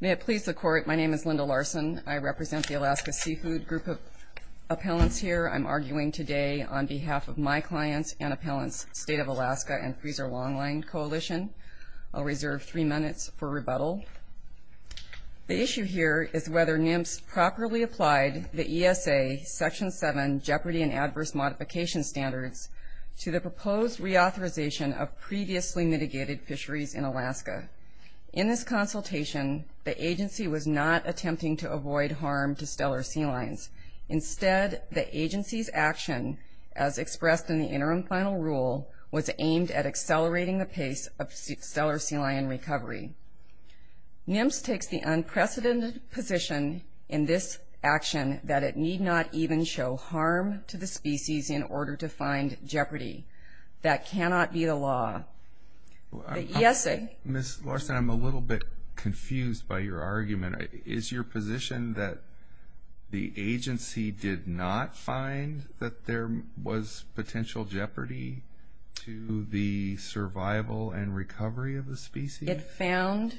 May it please the court, my name is Linda Larson. I represent the Alaska Seafood Group of Appellants here. I'm arguing today on behalf of my clients and appellants, State of Alaska and Freezer Longline Coalition. I'll reserve three minutes for rebuttal. The issue here is whether NIMS properly applied the ESA Section 7 Jeopardy and Adverse Modification Standards to the proposed reauthorization of previously mitigated fisheries in Alaska. In this consultation, the agency was not attempting to avoid harm to stellar sea lions. Instead, the agency's action, as expressed in the interim final rule, was aimed at accelerating the pace of stellar sea lion recovery. NIMS takes the unprecedented position in this action that it need not even show harm to the species in order to find jeopardy. That cannot be the law. The ESA... Ms. Larson, I'm a little bit confused by your argument. Is your position that the agency did not find that there was potential jeopardy to the survival and recovery of the species? It found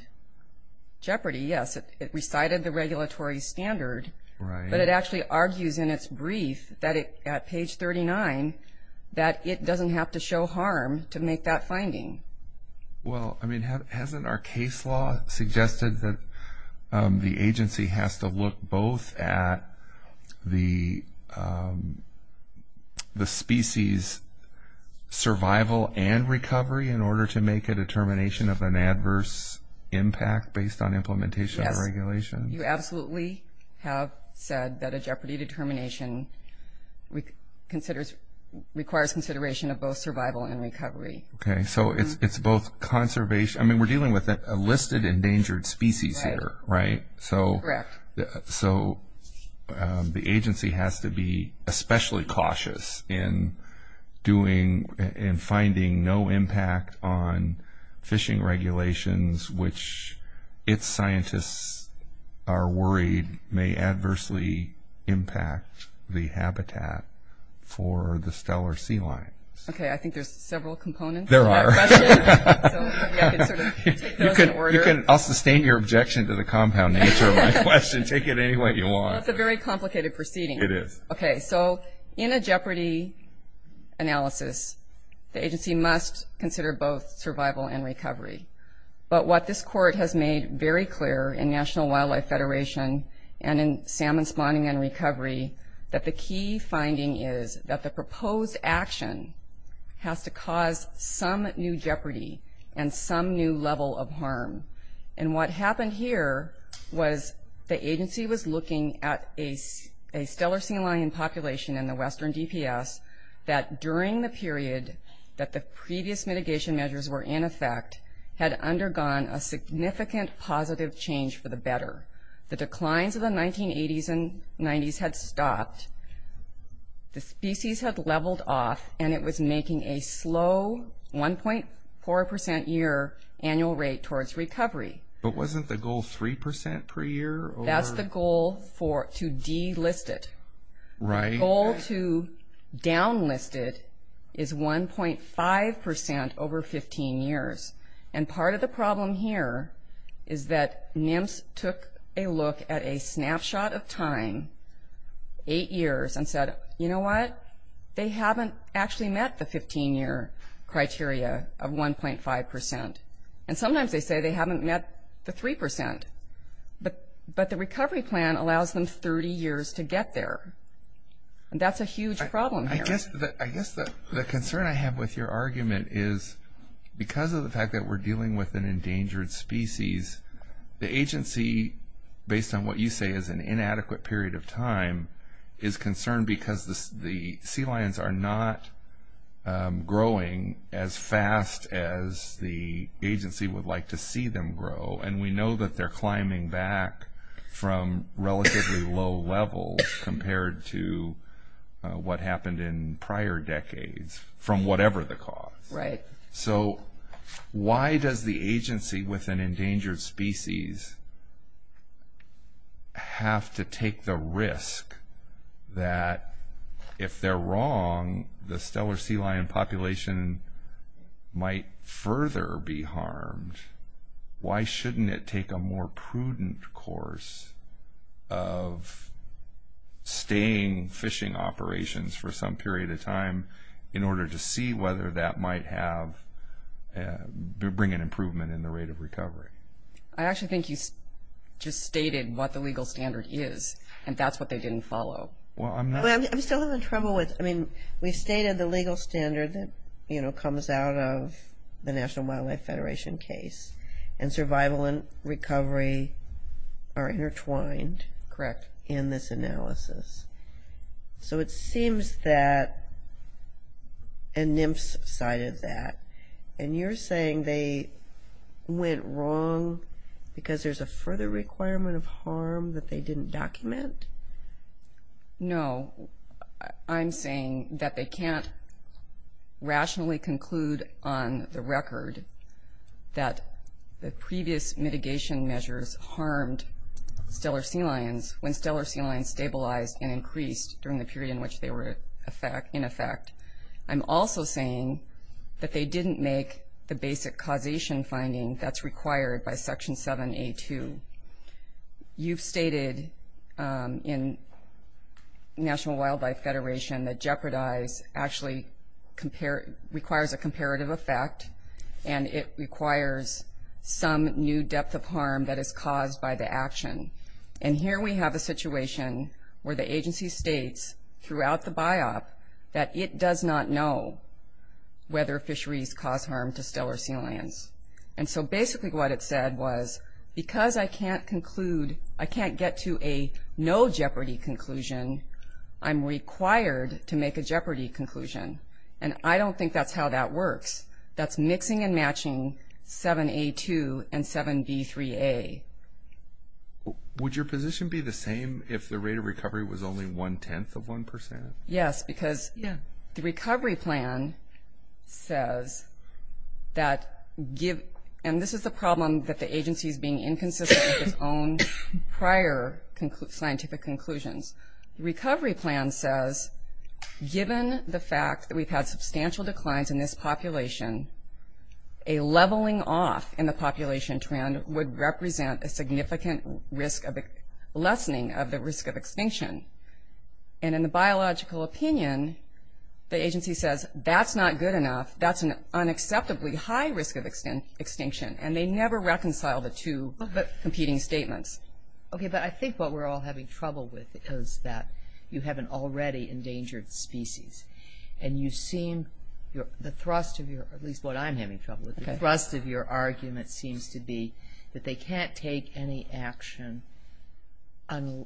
jeopardy, yes. It recited the regulatory standard, but it actually argues in its brief that it, at page 39, that it hasn't our case law suggested that the agency has to look both at the species survival and recovery in order to make a determination of an adverse impact based on implementation or regulation? You absolutely have said that a jeopardy determination requires consideration of both survival and recovery. Okay, so it's both conservation... I mean, we're dealing with a listed endangered species here, right? So the agency has to be especially cautious in doing and finding no impact on fishing regulations, which its scientists are worried may adversely impact the habitat for the stellar sea lions. Okay, I think there's several components to that question. There are. So maybe I can sort of take those in order. You can... I'll sustain your objection to the compound and answer my question. Take it any way you want. That's a very complicated proceeding. It is. Okay, so in a jeopardy analysis, the agency must consider both survival and recovery. But what this court has made very clear in National Wildlife Federation and in Salmon Spawning and Recovery, that the key finding is that the proposed action has to cause some new jeopardy and some new level of harm. And what happened here was the agency was looking at a stellar sea lion population in the western DPS that, during the period that the previous mitigation measures were in effect, had undergone a significant positive change for the better. The declines of the 1980s and 90s had stopped. The species had leveled off and it was making a slow 1.4% year annual rate towards recovery. But wasn't the goal 3% per year? That's the goal to delist it. Right. The goal to downlist it is 1.5% over 15 years. And part of the problem here is that NIMS took a look at a snapshot of time, eight years, and said, you know what? They haven't actually met the 15-year criteria of 1.5%. And sometimes they say they haven't met the 3%. But the recovery plan allows them 30 years to get there. And that's a huge problem here. I guess the concern I have with your argument is, because of the fact that we're dealing with an endangered species, the agency, based on what you say, is an inadequate period of time, is concerned because the sea lions are not growing as fast as the agency would like to see them grow. And we know that they're climbing back from relatively low levels compared to what happened in prior decades, from whatever the cause. Right. So why does the agency with an endangered species have to take the risk that, if they're wrong, the stellar sea lion population might further be harmed? Why shouldn't it take a more prudent course of staying fishing operations for some period of time in order to see whether that might bring an improvement in the rate of recovery? I actually think you just stated what the legal standard is, and that's what they didn't follow. Well, I'm not... I'm still having trouble with... I mean, we've stated the legal standard that, you know, comes out of the National Wildlife Federation case. And survival and recovery are intertwined... Correct. ...in this analysis. So it seems that... And Nymphs cited that. And you're saying they went wrong because there's a further requirement of harm that they didn't document? No. I'm saying that they can't rationally conclude on the record that the previous mitigation measures harmed stellar sea lions when stellar sea lions stabilized and increased during the period in which they were in effect. I'm also saying that they didn't make the basic causation finding that's required by Section 7A2. You've stated in National Wildlife Federation that jeopardize actually requires a comparative effect, and it requires some new depth of harm that is caused by the action. And here we have a situation where the agency states throughout the BIOP that it does not know whether fisheries cause harm to stellar sea lions. And so basically what it said was, because I can't conclude... I can't get to a no jeopardy conclusion, I'm required to make a jeopardy conclusion. And I don't think that's how that works. That's mixing and matching 7A2 and 7B3A. Would your position be the same if the rate of recovery was only one-tenth of one percent? Yes, because the recovery plan says that... And this is the problem that the agency is being inconsistent with its own prior scientific conclusions. The recovery plan says, given the fact that we've had substantial declines in this population, a leveling off in the population trend would represent a significant risk of lessening of the risk of extinction. And in the biological opinion, the agency says, that's not good enough. That's an unacceptably high risk of extinction. And they never reconcile the two competing statements. Okay, but I think what we're all having trouble with is that you have an already endangered species. And you seem... The thrust of your, at least what I'm having trouble with, the thrust of your argument seems to be that they can't take any action to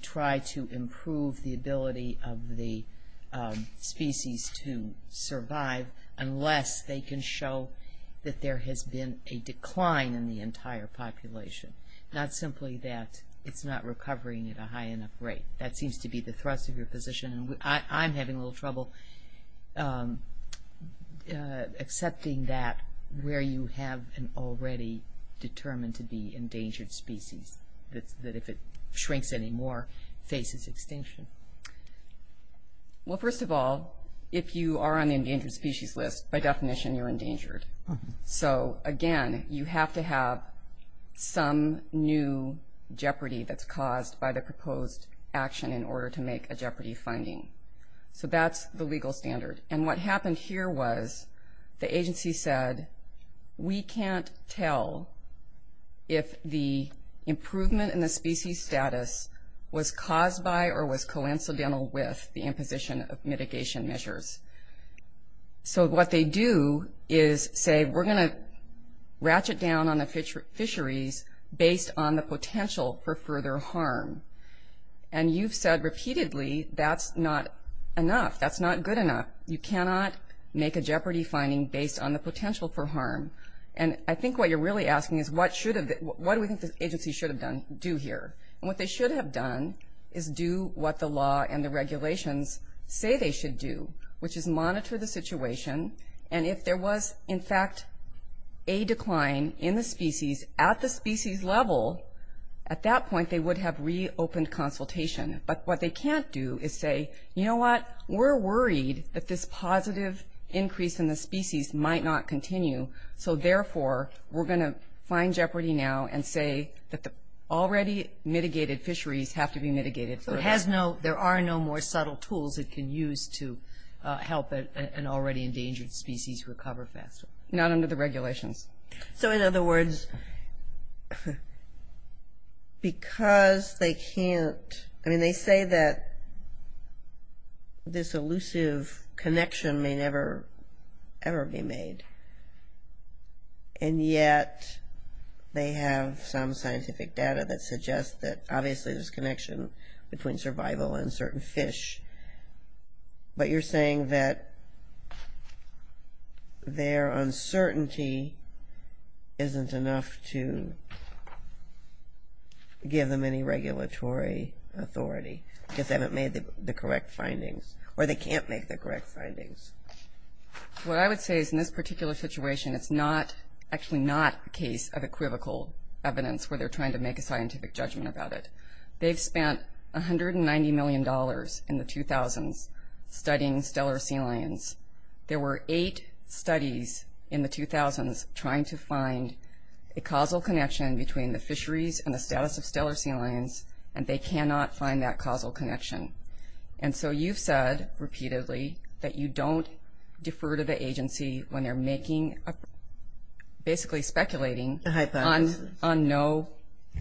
try to improve the ability of the species to survive unless they can show that there has been a decline in the entire population. Not simply that it's not recovering at a high enough rate. That seems to be the thrust of your position. I'm having a little trouble accepting that where you have an already determined to be endangered species, that if it shrinks anymore, faces extinction. Well, first of all, if you are on the endangered species list, by definition you're endangered. So again, you have to have some new jeopardy that's caused by the proposed action in order to make a jeopardy finding. So that's the legal standard. And what happened here was, the agency said, we can't tell if the improvement in the species status was caused by or was coincidental with the What they do is say, we're going to ratchet down on the fisheries based on the potential for further harm. And you've said repeatedly, that's not enough. That's not good enough. You cannot make a jeopardy finding based on the potential for harm. And I think what you're really asking is, what do we think the agency should have done, do here? And what they should have done is do what the law and the regulations say they should do, which is monitor the And if there was, in fact, a decline in the species at the species level, at that point, they would have reopened consultation. But what they can't do is say, you know what, we're worried that this positive increase in the species might not continue. So therefore, we're going to find jeopardy now and say that the already mitigated fisheries have to be mitigated. So it has no, there are no more subtle tools it can use to help an already endangered species recover faster. Not under the regulations. So in other words, because they can't, I mean, they say that this elusive connection may never, ever be made. And yet, they have some scientific data that suggests that, obviously, there's connection between survival and certain fish. But you're saying that their uncertainty isn't enough to give them any regulatory authority, because they haven't made the correct findings, or they can't make the correct findings. What I would say is, in this particular situation, it's not, actually not, a case of equivocal evidence where they're trying to make a scientific judgment about it. They've spent $190 million in the 2000s studying stellar sea lions. There were eight studies in the 2000s trying to find a causal connection between the fisheries and the status of stellar sea lions, and they cannot find that causal connection. And so you've said, repeatedly, that you don't defer to the agency when they're making, basically speculating on no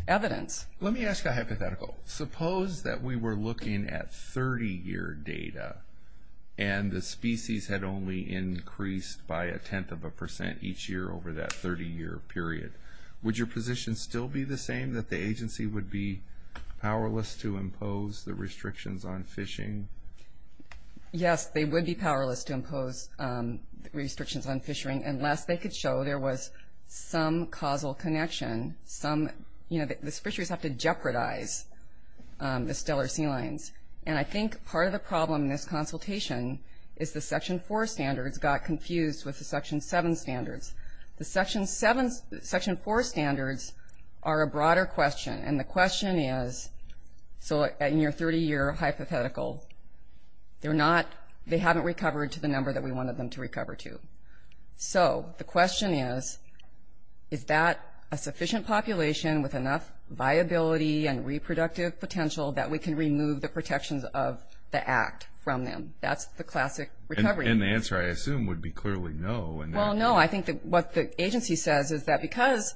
evidence. Let me ask a hypothetical. Suppose that we were looking at 30-year data, and the species had only increased by a tenth of a percent each year over that 30-year period. Would your position still be the same, that the agency would be powerless to impose the restrictions on fishing? Yes, they would be powerless to impose restrictions on fishing, unless they could show there was some causal connection, some, you know, the fisheries have to jeopardize the stellar sea lions. And I think part of the problem in this consultation is the Section 4 standards got confused with the Section 7 standards. The Section 7, Section 4 standards are a broader question, and the question is, so in your 30-year hypothetical, they're not, they haven't recovered to the number that we wanted them to recover to. So the question is, is that a sufficient population with enough viability and reproductive potential that we can remove the protections of the act from them? That's the classic recovery. And the answer, I assume, would be clearly no. Well, no. I think that what the agency says is that because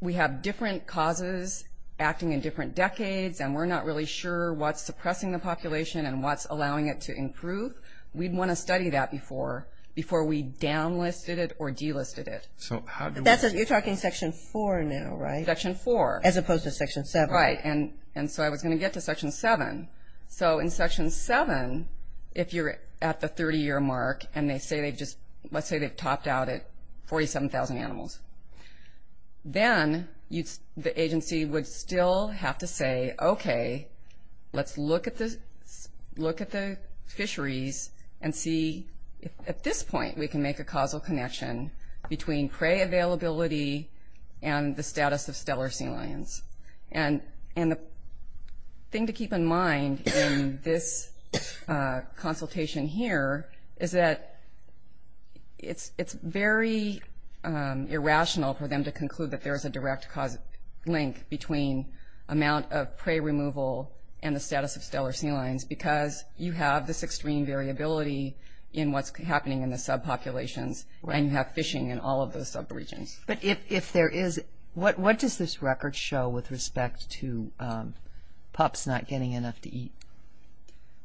we have different causes acting in different decades, and we're not really sure what's suppressing the population and what's allowing it to improve, we'd want to study that before we downlisted it or delisted it. So how do we... That's it, you're talking Section 4 now, right? Section 4. As opposed to Section 7. Right. And so I was going to get to Section 7. So in Section 7, if you're at the 30-year mark, and they say they've just, let's say they've topped out at 47,000 animals, then the agency would still have to say, okay, let's look at the fisheries and see if, at this point, we can make a causal connection between prey availability and the status of stellar sea lions. And the thing to keep in mind in this consultation here is that it's very irrational for them to conclude that there is a direct link between amount of prey removal and the status of stellar sea lions because you have this extreme variability in what's happening in the subpopulations, and you have fishing in all of those subregions. But if there is, what does this record show with respect to pups not getting enough to eat?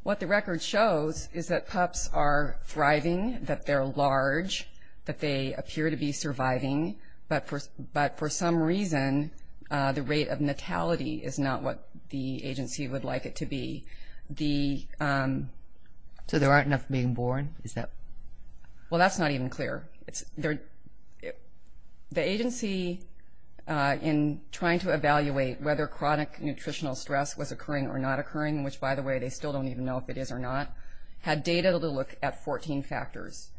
What the record shows is that pups are thriving, that they're large, that they appear to be surviving, but for some reason, the rate of natality is not what the agency would like it to be. So there aren't enough being born? Well, that's not even clear. The agency, in trying to evaluate whether chronic nutritional stress was occurring or not occurring, which, by the way, they still don't even know if it is or not, had data to look at 14 factors.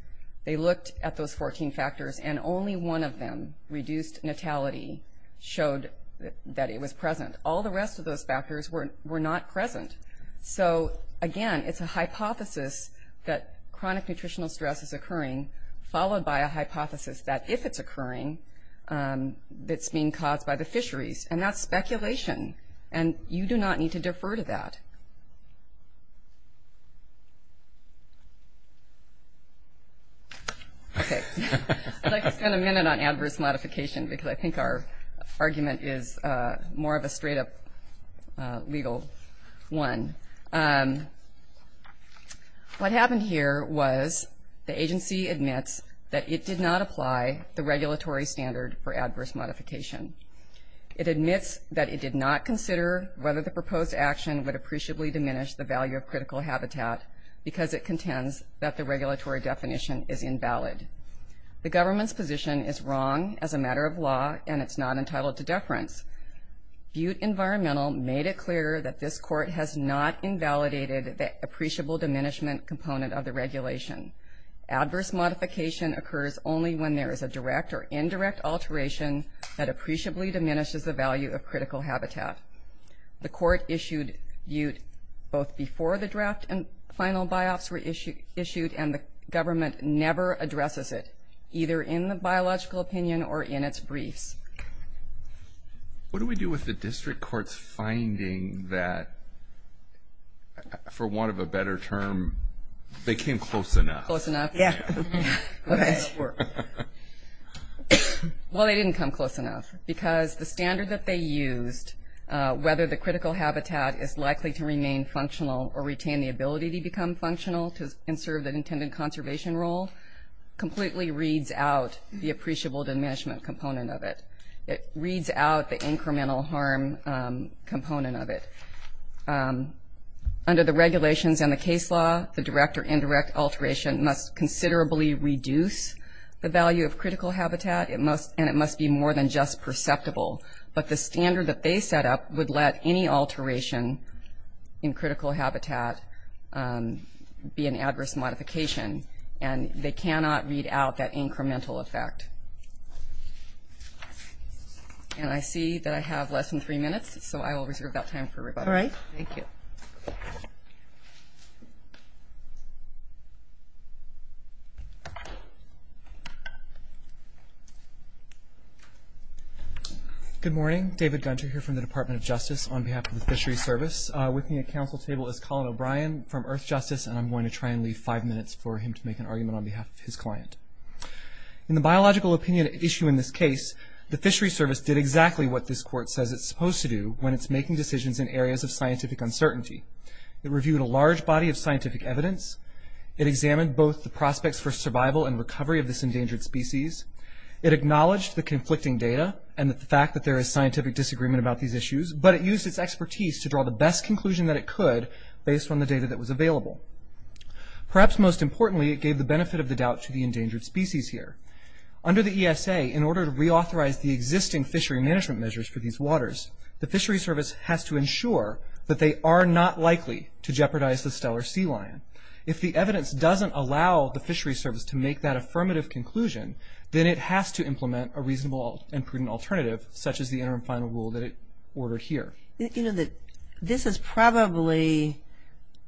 They looked at those 14 factors, and only one of them, reduced natality, showed that it was present. All the rest of those factors were not present. So, again, it's a hypothesis that chronic nutritional stress is occurring, followed by a hypothesis that if it's occurring, it's being caused by the fisheries. And that's speculation, and you do not need to defer to that. Okay. I'd like to spend a minute on adverse modification because I think our audience will appreciate a legal one. What happened here was the agency admits that it did not apply the regulatory standard for adverse modification. It admits that it did not consider whether the proposed action would appreciably diminish the value of critical habitat because it contends that the regulatory definition is invalid. The government's position is wrong as a environmental made it clear that this court has not invalidated the appreciable diminishment component of the regulation. Adverse modification occurs only when there is a direct or indirect alteration that appreciably diminishes the value of critical habitat. The court issued both before the draft and final by-ops were issued, and the government never addresses it, either in the biological opinion or in its briefs. What do we do with the district court's finding that, for want of a better term, they came close enough? Close enough? Yeah. Well, they didn't come close enough because the standard that they used, whether the critical habitat is likely to remain functional or retain the ability to become functional to conserve the intended conservation role, completely reads out the appreciable diminishment component of it. It reads out the incremental harm component of it. Under the regulations and the case law, the direct or indirect alteration must considerably reduce the value of critical habitat, and it must be more than just perceptible. But the standard that they set up would let any alteration in critical habitat be an adverse modification, and they cannot read out that incremental effect. And I see that I have less than three minutes, so I will reserve that time for rebuttal. All right. Thank you. Good morning. David Gunter here from the Department of Justice on behalf of the Fisheries Service. With me at council table is Colin O'Brien from Earth Science, and I'll give him five minutes for him to make an argument on behalf of his client. In the biological opinion issue in this case, the Fisheries Service did exactly what this court says it's supposed to do when it's making decisions in areas of scientific uncertainty. It reviewed a large body of scientific evidence. It examined both the prospects for survival and recovery of this endangered species. It acknowledged the conflicting data and the fact that there is scientific disagreement about these issues, but it used its expertise to draw the best conclusion that it could based on the data that was available. Perhaps most importantly, it gave the benefit of the doubt to the endangered species here. Under the ESA, in order to reauthorize the existing fishery management measures for these waters, the Fisheries Service has to ensure that they are not likely to jeopardize the stellar sea lion. If the evidence doesn't allow the Fisheries Service to make that affirmative conclusion, then it has to implement a reasonable and prudent alternative, such as the interim final rule that it would be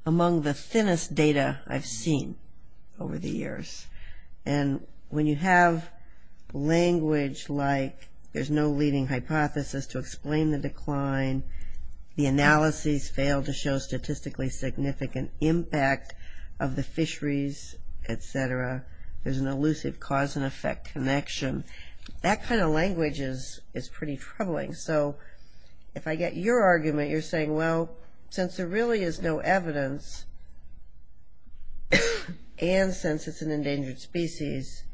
among the thinnest data I've seen over the years. And when you have language like there's no leading hypothesis to explain the decline, the analyses fail to show statistically significant impact of the fisheries, etc., there's an elusive cause-and-effect connection. That kind of language is pretty troubling. So if I get your argument, you're saying, well, since the really is no evidence, and since it's an endangered species,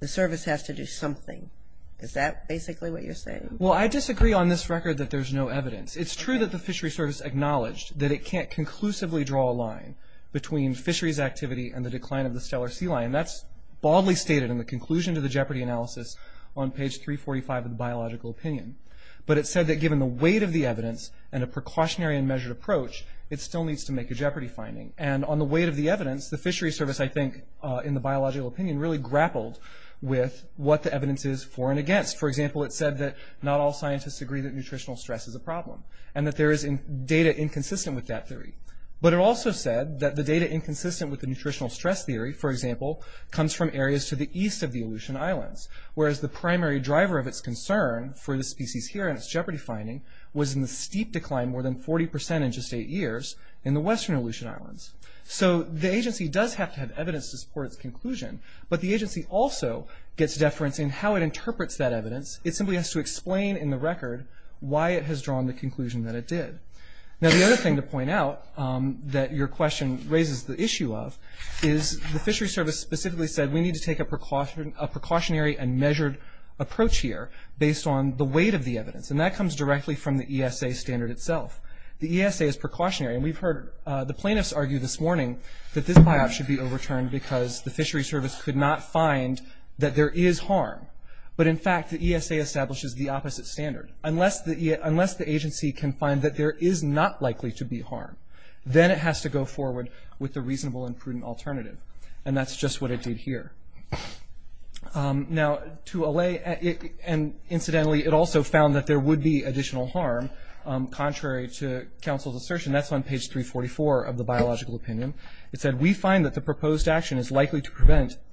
the service has to do something. Is that basically what you're saying? Well, I disagree on this record that there's no evidence. It's true that the Fisheries Service acknowledged that it can't conclusively draw a line between fisheries activity and the decline of the stellar sea lion. That's baldly stated in the conclusion to the Jeopardy! analysis on page 345 of the Biological Opinion. But it said that weight of the evidence and a precautionary and measured approach, it still needs to make a Jeopardy! finding. And on the weight of the evidence, the Fisheries Service, I think, in the Biological Opinion, really grappled with what the evidence is for and against. For example, it said that not all scientists agree that nutritional stress is a problem, and that there is data inconsistent with that theory. But it also said that the data inconsistent with the nutritional stress theory, for example, comes from areas to the east of the Aleutian Islands, whereas the primary driver of its concern for the species here and its Jeopardy! finding was in the steep decline, more than 40% in just eight years, in the western Aleutian Islands. So the agency does have to have evidence to support its conclusion, but the agency also gets deference in how it interprets that evidence. It simply has to explain in the record why it has drawn the conclusion that it did. Now the other thing to point out that your question raises the issue of is the Fisheries Service specifically said we need to take a precautionary and measured approach here based on the evidence, and that comes directly from the ESA standard itself. The ESA is precautionary, and we've heard the plaintiffs argue this morning that this buyout should be overturned because the Fisheries Service could not find that there is harm. But in fact, the ESA establishes the opposite standard. Unless the agency can find that there is not likely to be harm, then it has to go forward with the reasonable and prudent alternative, and that's just what it did here. Now to allay, and incidentally it also found that there would be additional harm, contrary to counsel's assertion, that's on page 344 of the Biological Opinion. It said we find that the proposed action is likely to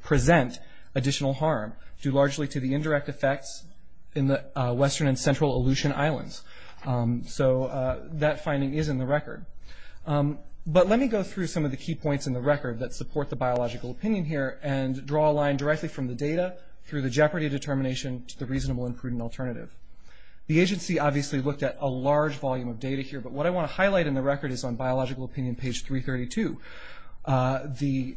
present additional harm due largely to the indirect effects in the western and central Aleutian Islands. So that finding is in the record. But let me go through some of the key points in the record that support the Biological Opinion here, and draw a line directly from the data through the jeopardy determination to the reasonable and prudent alternative. The agency obviously looked at a large volume of data here, but what I want to highlight in the record is on Biological Opinion page 332. The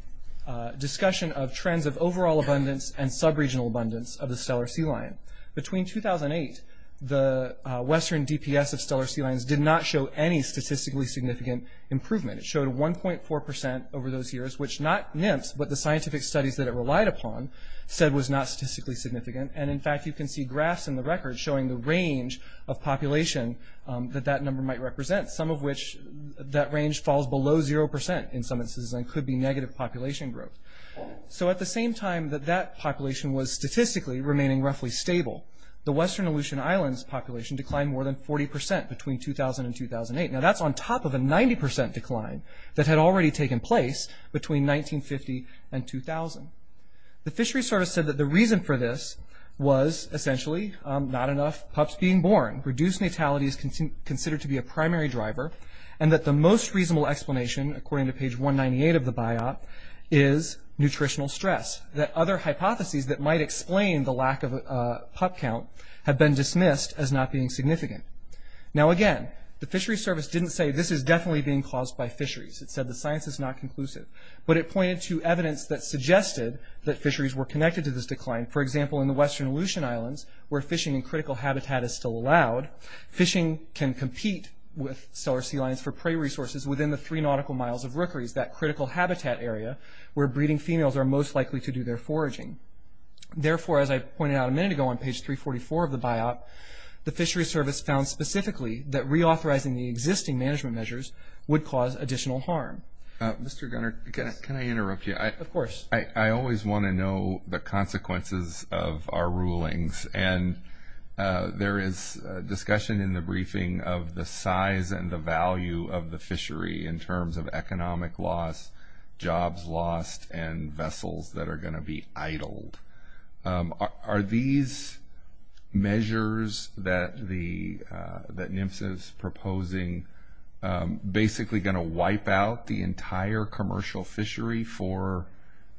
discussion of trends of overall abundance and sub-regional abundance of the Steller sea lion. Between 2008, the western DPS of Steller sea lions did not show any statistically significant improvement. It showed 1.4% over those years, which not nymphs, but the scientific studies that it relied upon, said was not statistically significant. And in fact, you can see graphs in the record showing the range of population that that number might represent. Some of which, that range falls below 0% in some instances and could be negative population growth. So at the same time that that population was statistically remaining roughly stable, the western Aleutian Islands population declined more than 40% between 2000 and 2008. Now that's on top of a 90% decline that had already taken place between 1950 and 2000. The fishery service said that the reason for this was essentially not enough pups being born, reduced natality is considered to be a primary driver, and that the most reasonable explanation, according to page 198 of the Biop, is nutritional stress. That other hypotheses that might explain the lack of a pup count have been dismissed as not being significant. Now again, the fishery service didn't say this is definitely being caused by fisheries. It said the science is not conclusive. But it pointed to evidence that suggested that fisheries were connected to this decline. For example, in the western Aleutian Islands, where fishing in critical habitat is still allowed, fishing can compete with stellar sea lions for prey resources within the three nautical miles of rookeries, that critical habitat area where breeding females are most likely to do their foraging. Therefore, as I pointed out a minute ago on page 344 of the Biop, the fishery service found specifically that reauthorizing the existing management measures would cause additional harm. Mr. Gunner, can I interrupt you? Of course. I always want to know the consequences of our rulings, and there is discussion in the briefing of the size and the value of the fishery in terms of economic loss, jobs lost, and vessels that are going to be idled. Are these measures that NMFS is proposing basically going to wipe out the entire commercial fishery for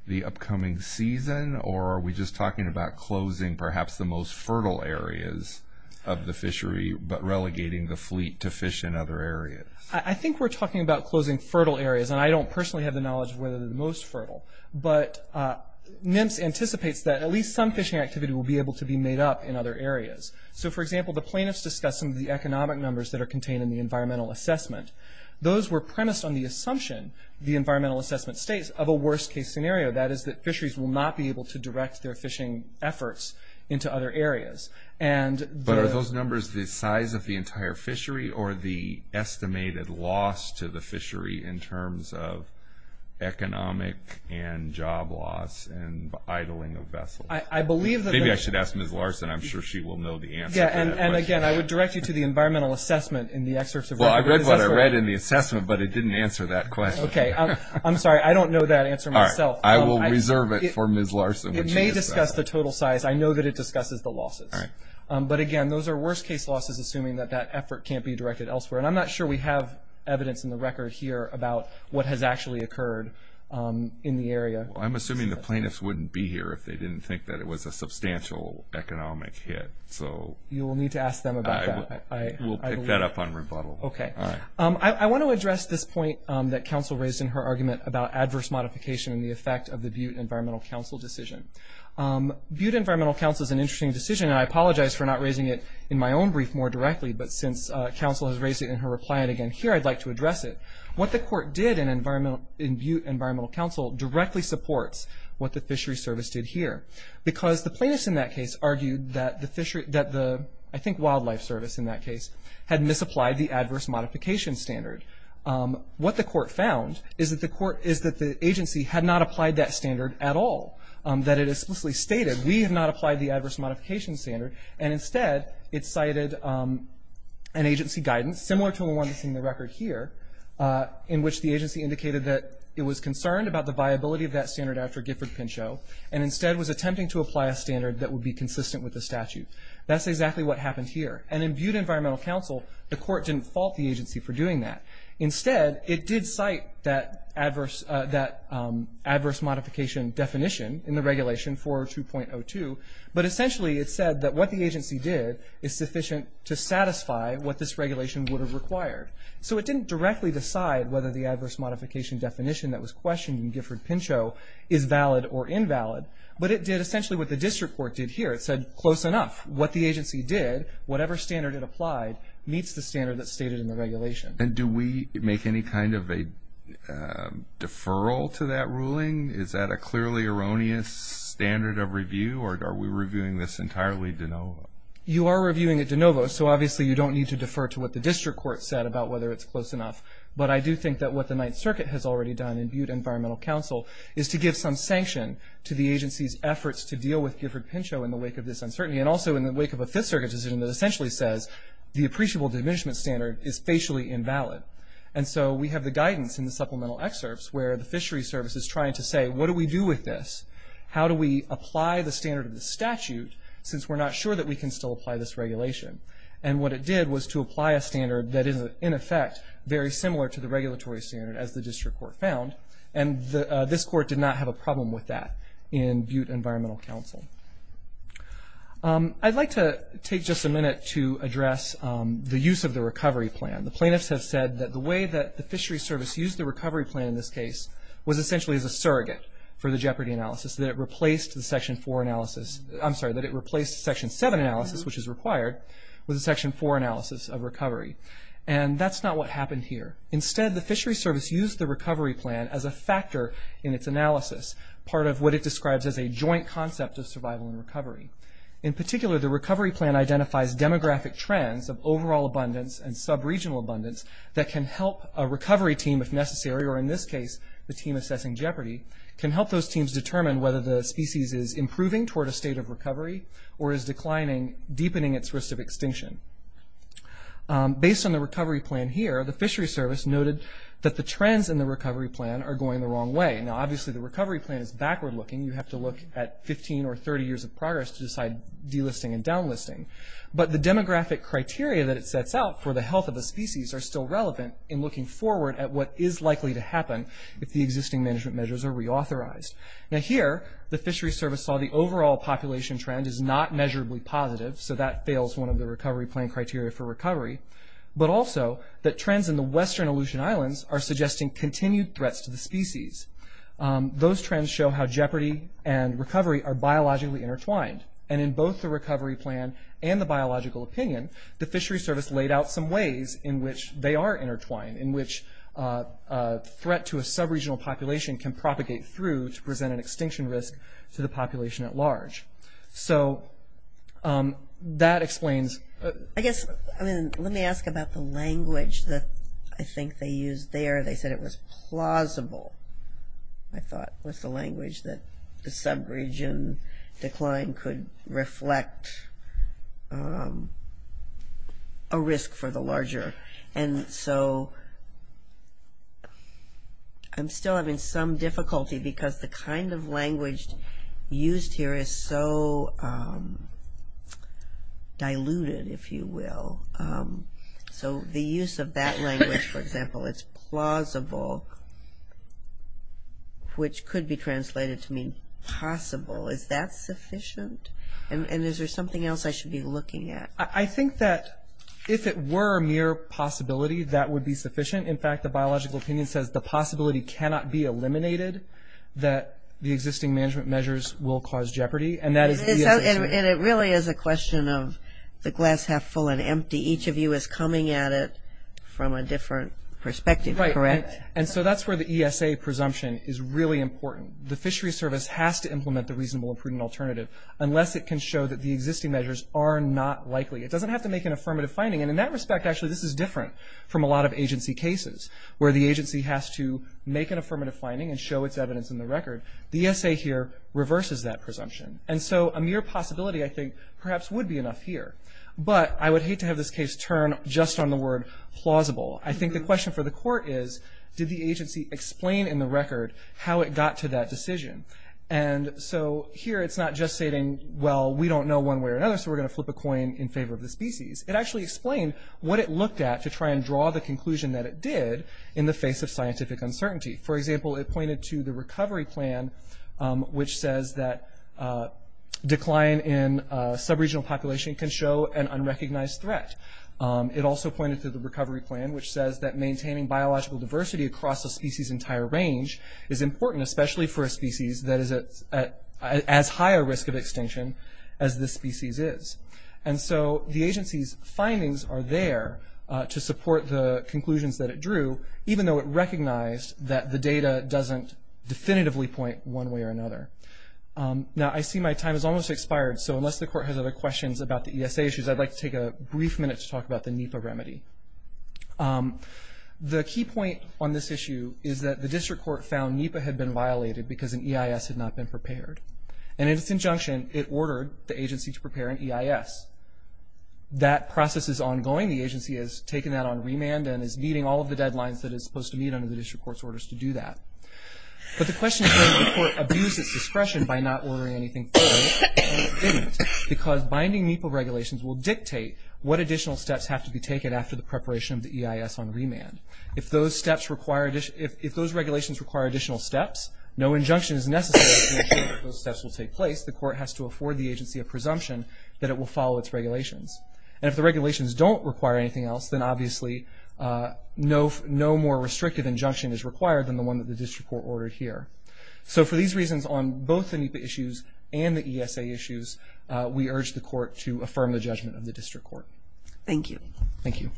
the upcoming season, or are we just talking about closing perhaps the most fertile areas of the fishery, but relegating the fleet to fish in other areas? I think we're talking about closing fertile areas, and I don't personally have the knowledge of whether they're the most fertile. But NMFS anticipates that at least some fishing activity will be able to be made up in other areas. So for example, the plaintiffs discuss some of the economic numbers that are contained in the environmental assessment. Those were premised on the assumption the environmental assessment states of a worst-case scenario, that is that fisheries will not be able to direct their fishing efforts into other areas. But are those numbers the size of the entire fishery, or the estimated loss to the fishery in terms of economic and job loss and idling of vessels? Maybe I should ask Ms. Larson. I'm sure she will know the answer. Yeah, and again, I would direct you to the environmental assessment in the excerpts of... Well, I read what I read in the assessment, but it didn't answer that question. Okay. I'm sorry. I don't know that answer myself. I will reserve it for Ms. Larson. It may discuss the total size. I know that it discusses the losses. But again, those are worst-case losses, assuming that that effort can't be directed elsewhere. And I'm not sure we have evidence in the record here about what has actually occurred in the area. I'm assuming the plaintiffs wouldn't be here if they didn't think that it was a substantial economic hit. So... You will need to ask them about that. I will pick that up on rebuttal. Okay. I want to address this point that counsel raised in her argument about adverse modification and the effect of the Butte Environmental Council decision. Butte Environmental Council is an interesting decision, and I apologize for not raising it in my own brief more directly. But since counsel has raised it in her reply, and again here, I'd like to address it. What the court did in Butte Environmental Council directly supports what the fishery service did here. Because the plaintiffs in that case argued that the wildlife service in that case had misapplied the adverse modification standard. What the court found is that the agency had not applied that standard at all. That it explicitly stated, we have not applied the adverse modification standard. And instead, it cited an agency guidance similar to the one that's in the record here, in which the agency indicated that it was concerned about the viability of that standard after Gifford Pinchot, and instead was attempting to apply a standard that would be consistent with the statute. That's exactly what happened here. And in Butte Environmental Council, the court didn't fault the agency for doing that. Instead, it did cite that adverse modification definition in the regulation 402.02. But essentially, it said that what the agency did is sufficient to satisfy what this regulation would have required. So it didn't directly decide whether the definition that was questioned in Gifford Pinchot is valid or invalid. But it did essentially what the district court did here. It said, close enough. What the agency did, whatever standard it applied, meets the standard that's stated in the regulation. And do we make any kind of a deferral to that ruling? Is that a clearly erroneous standard of review? Or are we reviewing this entirely de novo? You are reviewing it de novo. So obviously, you don't need to defer to what the district court said about whether it's close enough. But I do think that what the Ninth Circuit has already done in Butte Environmental Council is to give some sanction to the agency's efforts to deal with Gifford Pinchot in the wake of this uncertainty. And also in the wake of a Fifth Circuit decision that essentially says the appreciable diminishment standard is facially invalid. And so we have the guidance in the supplemental excerpts where the fishery service is trying to say, what do we do with this? How do we apply the standard of the statute since we're not sure that we can still apply this regulation? And what it did was to apply a standard that is, in effect, very similar to the regulatory standard as the district court found. And this court did not have a problem with that in Butte Environmental Council. I'd like to take just a minute to address the use of the recovery plan. The plaintiffs have said that the way that the fishery service used the recovery plan in this case was essentially as a surrogate for the jeopardy analysis, that it replaced the Section 4 analysis. I'm sorry, that it replaced Section 7 analysis, which is required, with a Section 4 analysis of recovery. And that's not what happened here. Instead, the fishery service used the recovery plan as a factor in its analysis, part of what it describes as a joint concept of survival and recovery. In particular, the recovery plan identifies demographic trends of overall abundance and sub-regional abundance that can help a recovery team, if necessary, or in this case, the team assessing jeopardy, can help those teams determine whether the species is improving toward a state of recovery or is declining, deepening its risk of extinction. Based on the recovery plan here, the fishery service noted that the trends in the recovery plan are going the wrong way. Now obviously, the recovery plan is backward-looking. You have to look at 15 or 30 years of progress to decide delisting and downlisting. But the demographic criteria that it sets out for the health of a species are still relevant in looking forward at what is likely to happen if the existing management measures are reauthorized. Now here, the fishery service saw the overall population trend is not measurably positive, so that fails one of the recovery plan criteria for recovery, but also that trends in the western Aleutian Islands are suggesting continued threats to the species. Those trends show how jeopardy and recovery are biologically intertwined, and in both the recovery plan and the biological opinion, the fishery service laid out some ways in which they are intertwined, in which a threat to a sub-regional population can emerge. So, that explains... I guess, let me ask about the language that I think they used there. They said it was plausible, I thought, was the language that the sub-region decline could reflect a risk for the larger. And so, I'm still having some difficulty because the kind of language used here is so diluted, if you will. So, the use of that language, for example, it's plausible, which could be translated to mean possible. Is that sufficient? And is there something else I should be looking at? I think that if it were a mere possibility, that would be sufficient. In fact, the existing management measures will cause jeopardy, and that is the ESA's... And it really is a question of the glass half full and empty. Each of you is coming at it from a different perspective, correct? And so, that's where the ESA presumption is really important. The fishery service has to implement the reasonable and prudent alternative, unless it can show that the existing measures are not likely. It doesn't have to make an affirmative finding, and in that respect, actually, this is different from a lot of agency cases, where the agency has to make an affirmative finding and show its evidence in the record. The ESA here reverses that presumption. And so, a mere possibility, I think, perhaps would be enough here. But I would hate to have this case turn just on the word plausible. I think the question for the court is, did the agency explain in the record how it got to that decision? And so, here, it's not just stating, well, we don't know one way or another, so we're going to flip a coin in favor of the species. It actually explained what it looked at to try and draw the conclusion that it did in the face of scientific uncertainty. For example, it pointed to the recovery plan, which says that decline in sub-regional population can show an unrecognized threat. It also pointed to the recovery plan, which says that maintaining biological diversity across a species' entire range is important, especially for a species that is at as high a risk of extinction as this species is. And so, the agency's findings are there to support the conclusions that it drew, even though it recognized that the data doesn't definitively point one way or another. Now, I see my time has almost expired, so unless the court has other questions about the ESA issues, I'd like to take a brief minute to talk about the NEPA remedy. The key point on this issue is that the district court found NEPA had been violated because an EIS had not been prepared. And in its injunction, it ordered the agency to prepare an EIS. That process is ongoing. The agency has taken that on remand and is meeting all of the deadlines that it's supposed to meet under the district court's orders to do that. But the question is, can the court abuse its discretion by not ordering anything further? And it didn't, because binding NEPA regulations will dictate what additional steps have to be taken after the preparation of the EIS on remand. If those regulations require additional steps, no injunction is necessary to ensure that those steps will take place. The court has to afford the agency a presumption that it will follow its regulations. And if the regulations don't require anything else, then obviously no more restrictive injunction is required than the one that the district court ordered here. So for these reasons on both the NEPA issues and the ESA issues, we urge the court to affirm the judgment of the district court. Thank you. Thank you.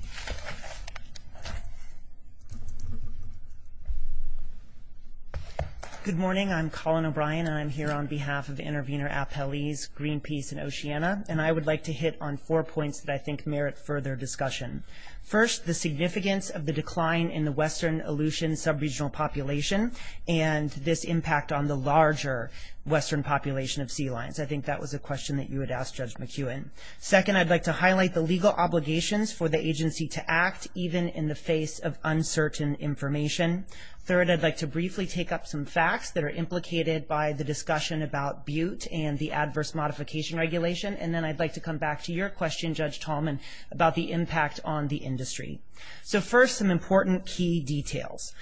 Good morning. I'm Colin O'Brien and I'm here on behalf of the intervener appellees Greenpeace and Oceana. And I would like to hit on four points that I First, the significance of the decline in the Western Aleutian sub-regional population and this impact on the larger Western population of sea lions. I think that was a question that you had asked Judge McEwen. Second, I'd like to highlight the legal obligations for the agency to act even in the face of uncertain information. Third, I'd like to briefly take up some facts that are implicated by the discussion about Butte and the adverse modification regulation. And then I'd like to come back to your question, Judge Tallman, about the impact on the industry. So first, some important key details.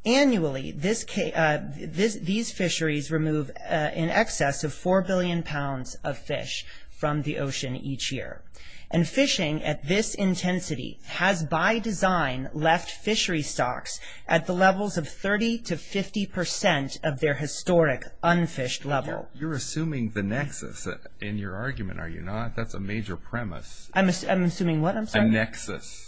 Annually, these fisheries remove in excess of four billion pounds of fish from the ocean each year. And fishing at this intensity has by design left fishery stocks at the levels of 30 to 50 percent of their historic unfished level. You're assuming the nexus in your argument, are you not? That's a nexus. I'm assuming what? I'm sorry. A nexus.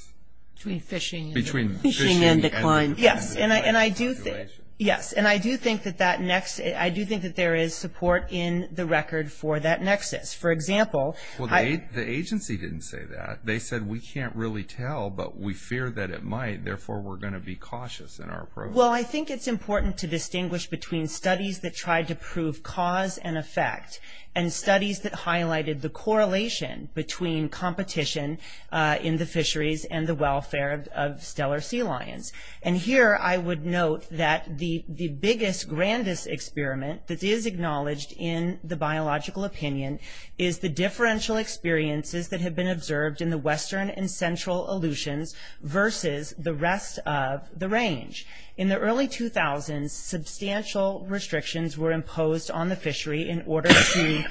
Between fishing and decline. Yes. And I do think that there is support in the record for that nexus. For example... Well, the agency didn't say that. They said, we can't really tell, but we fear that it might. Therefore, we're going to be cautious in our approach. Well, I think it's important to distinguish between studies that tried to prove cause and effect and studies that highlighted the correlation between competition in the fisheries and the welfare of stellar sea lions. And here, I would note that the biggest, grandest experiment that is acknowledged in the biological opinion is the differential experiences that have been observed in the western and central Aleutians versus the rest of the range. In the early 2000s, substantial restrictions were imposed on the fishery in order to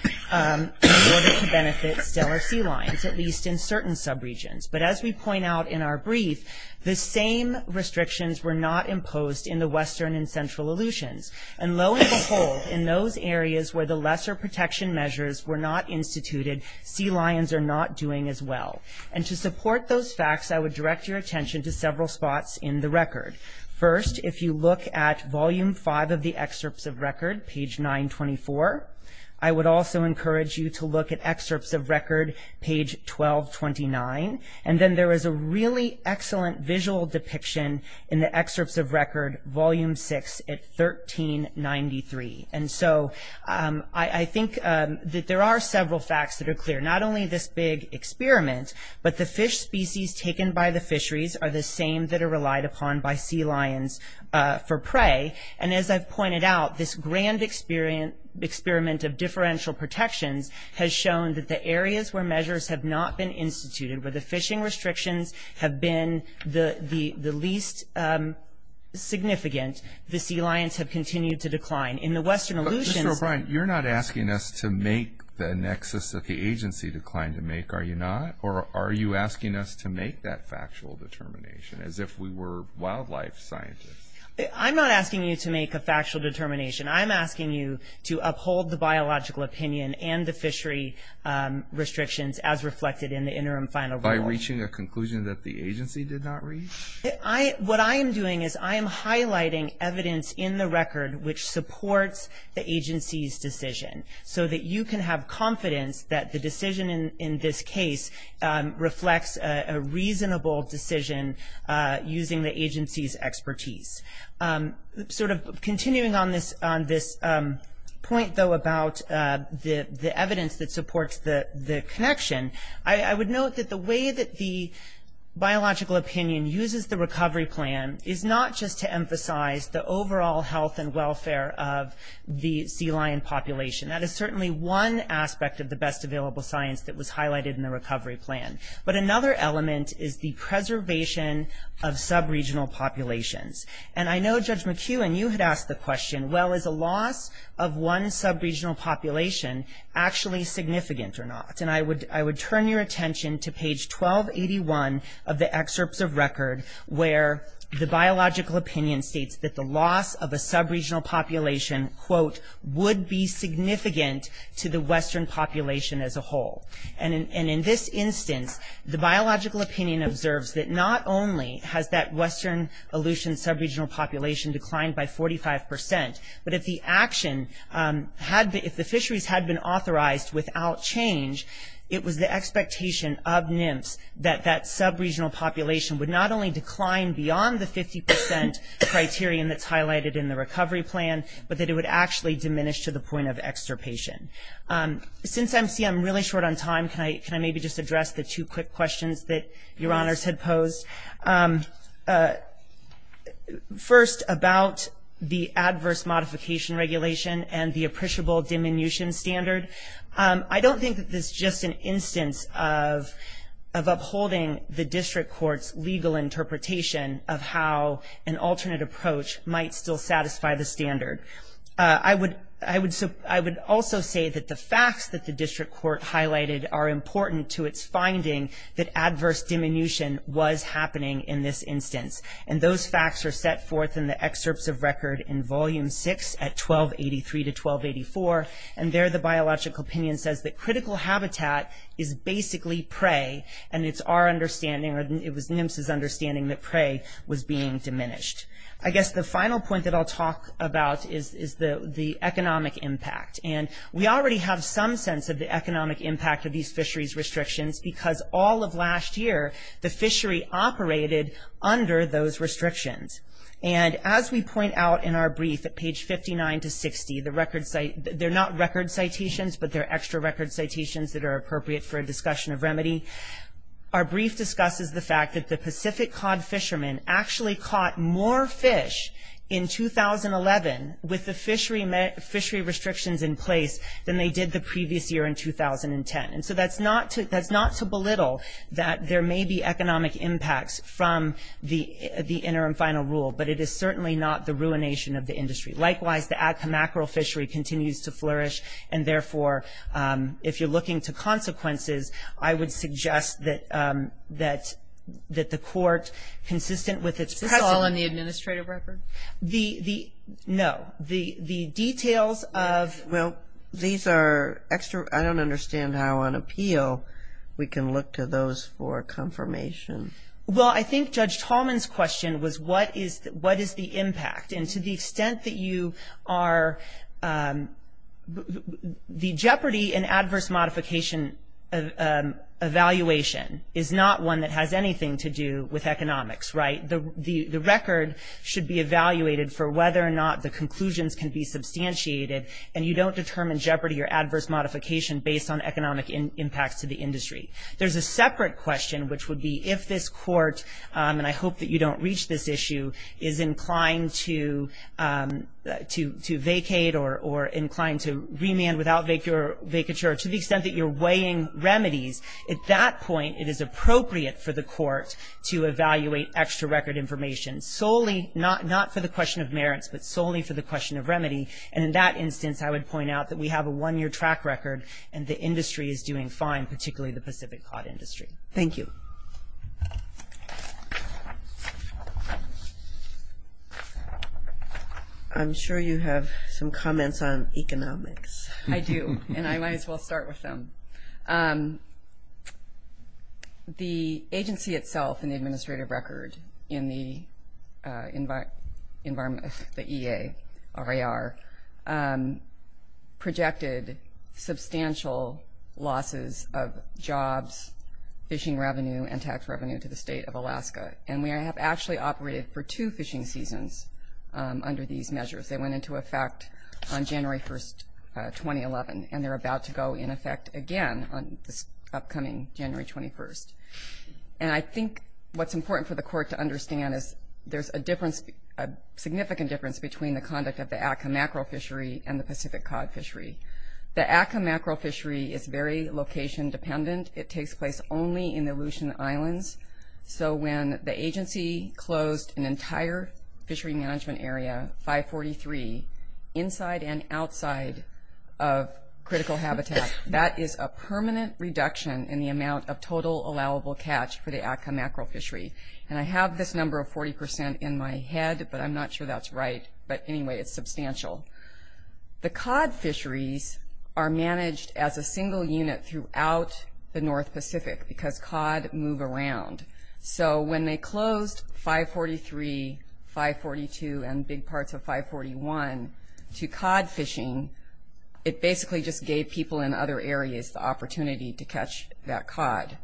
benefit stellar sea lions, at least in certain sub-regions. But as we point out in our brief, the same restrictions were not imposed in the western and central Aleutians. And lo and behold, in those areas where the lesser protection measures were not instituted, sea lions are not doing as well. And to support those facts, I would direct your attention to several spots in the record. First, if you look at volume five of the excerpts of record, page 1224, I would also encourage you to look at excerpts of record, page 1229. And then there is a really excellent visual depiction in the excerpts of record, volume six, at 1393. And so I think that there are several facts that are clear. Not only this big experiment, but the fish species taken by the fisheries are the same that are relied upon by sea lions for prey. And as I've pointed out, this grand experiment of differential protections has shown that the areas where measures have not been instituted, where the fishing restrictions have been the least significant, the sea lions have continued to decline. In the western Aleutians... Mr. O'Brien, you're not asking us to make the nexus of the agency decline to make, are you not? Or are you asking us to make that factual determination, as if we were wildlife scientists? I'm not asking you to make a factual determination. I'm asking you to uphold the biological opinion and the fishery restrictions as reflected in the interim final rule. By reaching a conclusion that the agency did not reach? What I am doing is I am highlighting evidence in the record which supports the agency's decision, so that you can have confidence that the decision in this case reflects a reasonable decision using the agency's expertise. Sort of continuing on this point, though, about the evidence that supports the connection, I would note that the way that the biological opinion uses the recovery plan is not just to emphasize the overall health and welfare of the sea lion population. That is certainly one aspect of the best available science that the recovery plan. But another element is the preservation of sub-regional populations. And I know Judge McEwen, you had asked the question, well, is a loss of one sub-regional population actually significant or not? And I would turn your attention to page 1281 of the excerpts of record, where the biological opinion states that the loss of a sub-regional population, quote, would be significant. In this instance, the biological opinion observes that not only has that western Aleutian sub-regional population declined by 45%, but if the action, if the fisheries had been authorized without change, it was the expectation of NIMS that that sub-regional population would not only decline beyond the 50% criterion that's highlighted in the recovery plan, but that it would actually diminish to the point of extirpation. Since I see I'm really short on time, can I maybe just address the two quick questions that Your Honors had posed? First, about the adverse modification regulation and the appreciable diminution standard. I don't think that this is just an instance of upholding the district court's legal interpretation of how an alternate approach might still satisfy the standard. I would also say that the facts that the district court highlighted are important to its finding that adverse diminution was happening in this instance, and those facts are set forth in the excerpts of record in Volume 6 at 1283 to 1284, and there the biological opinion says that critical habitat is basically prey, and it's our understanding, or it was NIMS's understanding, that prey was being diminished. I guess the final point that I'll talk about is the economic impact, and we already have some sense of the economic impact of these fisheries restrictions because all of last year the fishery operated under those restrictions, and as we point out in our brief at page 59 to 60, the record cite they're not record citations, but they're extra record citations that are appropriate for a discussion of remedy. Our brief discusses the fact that the Pacific Cod fishermen actually caught more fish in 2011 with the fishery restrictions in place than they did the previous year in 2010, and so that's not to belittle that there may be economic impacts from the interim final rule, but it is certainly not the ruination of the industry. Likewise, the Atka mackerel fishery continues to flourish, and therefore, if you're looking to consequences, I would suggest that the court, consistent with its precedent... Is this all in the administrative record? No. The details of... Well, these are extra... I don't understand how on appeal we can look to those for confirmation. Well, I think Judge Tallman's question was what is the impact, and to the extent that you are... The jeopardy in adverse modification evaluation is not one that has anything to do with economics, right? The record should be evaluated for whether or not the conclusions can be substantiated, and you don't determine jeopardy or adverse modification based on economic impacts to the industry. There's a separate question, which would be if this court, and I hope that you don't reach this issue, is inclined to vacate or inclined to remand without vacature. To the extent that you're weighing remedies, at that point, it is appropriate for the court to evaluate extra record information solely, not for the question of merits, but solely for the question of remedy, and in that instance, I would point out that we have a one-year track record, and the industry is doing fine, particularly the Pacific Cod industry. Thank you. I'm sure you have some comments on economics. I do, and I think what's important for the court to understand is that the fishing season that occurred in the EAR projected substantial losses of jobs, fishing revenue, and tax revenue to the state of Alaska, and we have actually operated for two fishing seasons under these measures. They went into effect on January 1st, 2011, and they're about to go in effect again on this upcoming January 21st, and I think what's important for the court to understand is there's a difference, a significant difference, between the conduct of the Atka Mackerel fishery and the Pacific Cod fishery. The Atka Mackerel fishery is very location dependent. It takes place only in the Aleutian Islands, so when the agency closed an entire fishery management area, 543, inside and outside of critical habitat, that is a permanent reduction in the amount of total allowable catch for the Atka Mackerel fishery, and I have this number of 40% in my head, but I'm not sure that's right, but anyway, it's substantial. The cod fisheries are managed as a single unit throughout the North Pacific because cod move around, so when they closed 543, 542, and big parts of 541 to cod fishing, it basically just gave people in other areas the opportunity to catch that cod,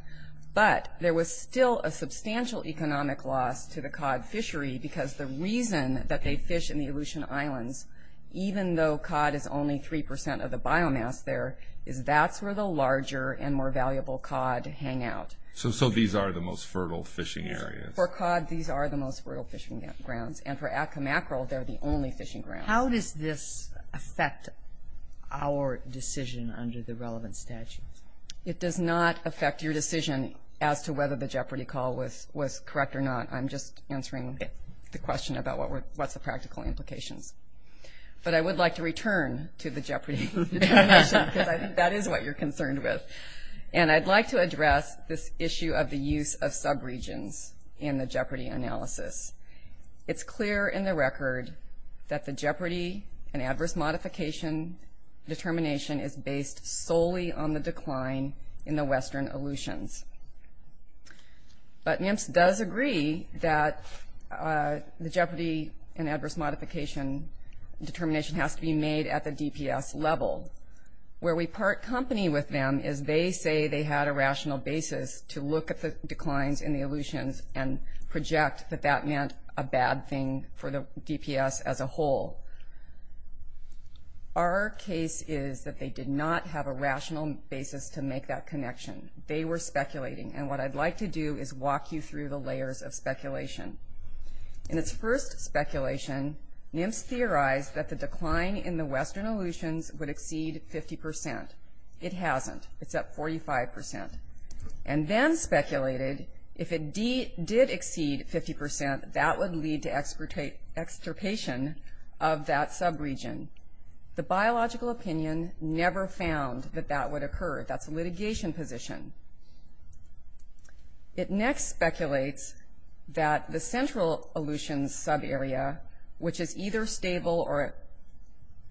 but there was still a substantial economic loss to the cod fishery because the reason that they fish in the Aleutian Islands, even though cod is only 3% of the biomass there, is that's where the larger and more valuable cod hang out. So these are the most fertile fishing areas? For cod, these are the most fertile fishing grounds, and for Atka Mackerel, they're the only fishing ground. How does this affect our decision under the relevant statute? It does not affect your decision whether the Jeopardy call was correct or not. I'm just answering the question about what's the practical implications, but I would like to return to the Jeopardy definition because I think that is what you're concerned with, and I'd like to address this issue of the use of sub-regions in the Jeopardy analysis. It's clear in the record that the Jeopardy and adverse modification determination is based solely on the decline in the Western Aleutians, but NIMS does agree that the Jeopardy and adverse modification determination has to be made at the DPS level. Where we part company with them is they say they had a rational basis to look at the declines in the Aleutians and project that that meant a bad thing for the DPS as a whole. Our case is that they did not have a rational basis to make that connection. They were speculating, and what I'd like to do is walk you through the layers of speculation. In its first speculation, NIMS theorized that the decline in the Western Aleutians would exceed 50%. It hasn't. It's at 45%. And then speculated, if it did exceed 50%, that would lead to extirpation of that sub-region. The biological opinion never found that that would occur. That's a litigation position. It next speculates that the central Aleutians sub-area, which is either stable or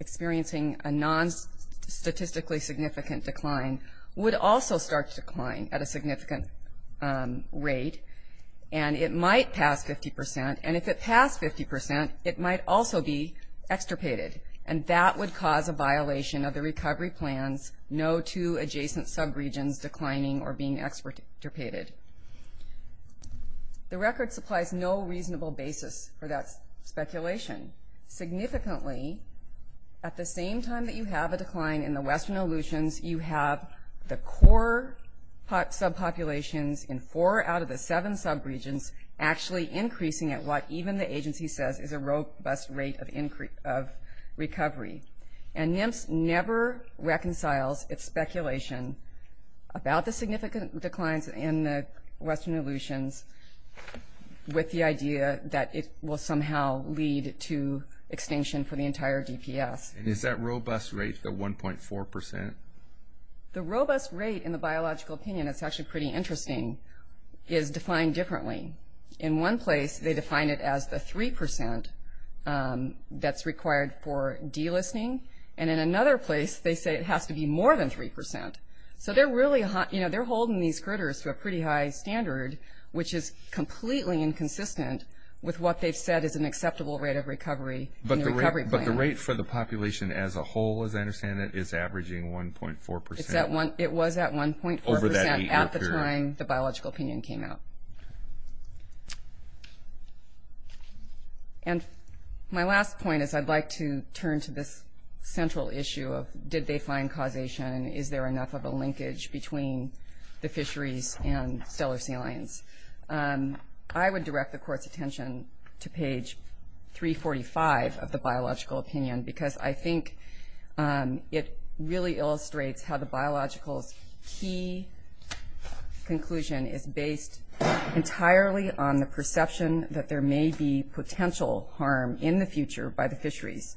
experiencing a non-statistically significant decline, would also start to decline at a significant rate. And it might pass 50%, and if it passed 50%, it might also be extirpated. And that would cause a violation of the recovery plans, no two adjacent sub-regions declining or being extirpated. The record supplies no reasonable basis for that speculation. Significantly, at the same time that you have a decline in the Western Aleutians, you have the core sub-populations in four out of the seven sub-regions actually increasing at what even the agency says is a robust rate of recovery. And NIMS never reconciles its speculation about the significant declines in the Western Aleutians with the idea that it will somehow lead to the robust rate in the biological opinion, it's actually pretty interesting, is defined differently. In one place, they define it as the 3% that's required for delisting. And in another place, they say it has to be more than 3%. So they're really, you know, they're holding these critters to a pretty high standard, which is completely inconsistent with what they've said is an acceptable rate of recovery in the recovery plan. The rate for the population as a whole, as I understand it, is averaging 1.4% It was at 1.4% at the time the biological opinion came out. And my last point is I'd like to turn to this central issue of, did they find causation? Is there enough of a linkage between the fisheries and stellar salience? I would direct the court's attention to page 345 of the biological opinion, because I think it really illustrates how the biological's key conclusion is based entirely on the perception that there may be potential harm in the future by the fisheries.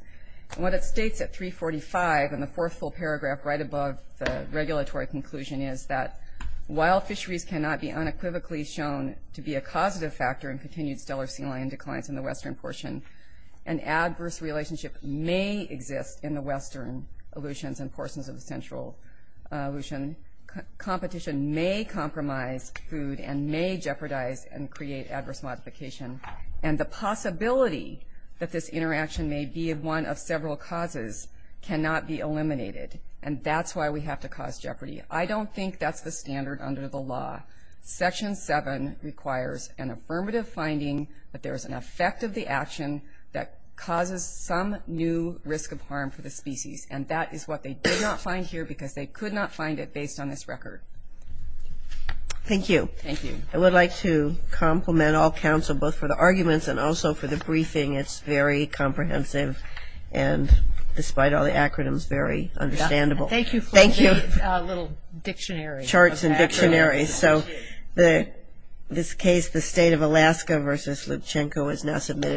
And what it states at 345 in the fourth full paragraph, right above the regulatory conclusion, is that while fisheries cannot be unequivocally shown to be a causative factor in continued stellar salient declines in the Western portion, an adverse relationship may exist in the Western Aleutians and portions of the Central Aleutian. Competition may compromise food and may jeopardize and create adverse modification. And the possibility that this interaction may be one of several causes cannot be eliminated. And that's why we have to cause jeopardy. I don't think that's the standard under the law. Section 7 requires an affirmative finding that there is an effect of the action that causes some new risk of harm for the species. And that is what they did not find here because they could not find it based on this record. Thank you. Thank you. I would like to compliment all counsel, both for the arguments and also for the briefing. It's very comprehensive. And despite all the acronyms, very understandable. Thank you. Thank you. A little dictionary charts and dictionaries. So the this case, the state of Alaska versus Lipchenko is now submitted.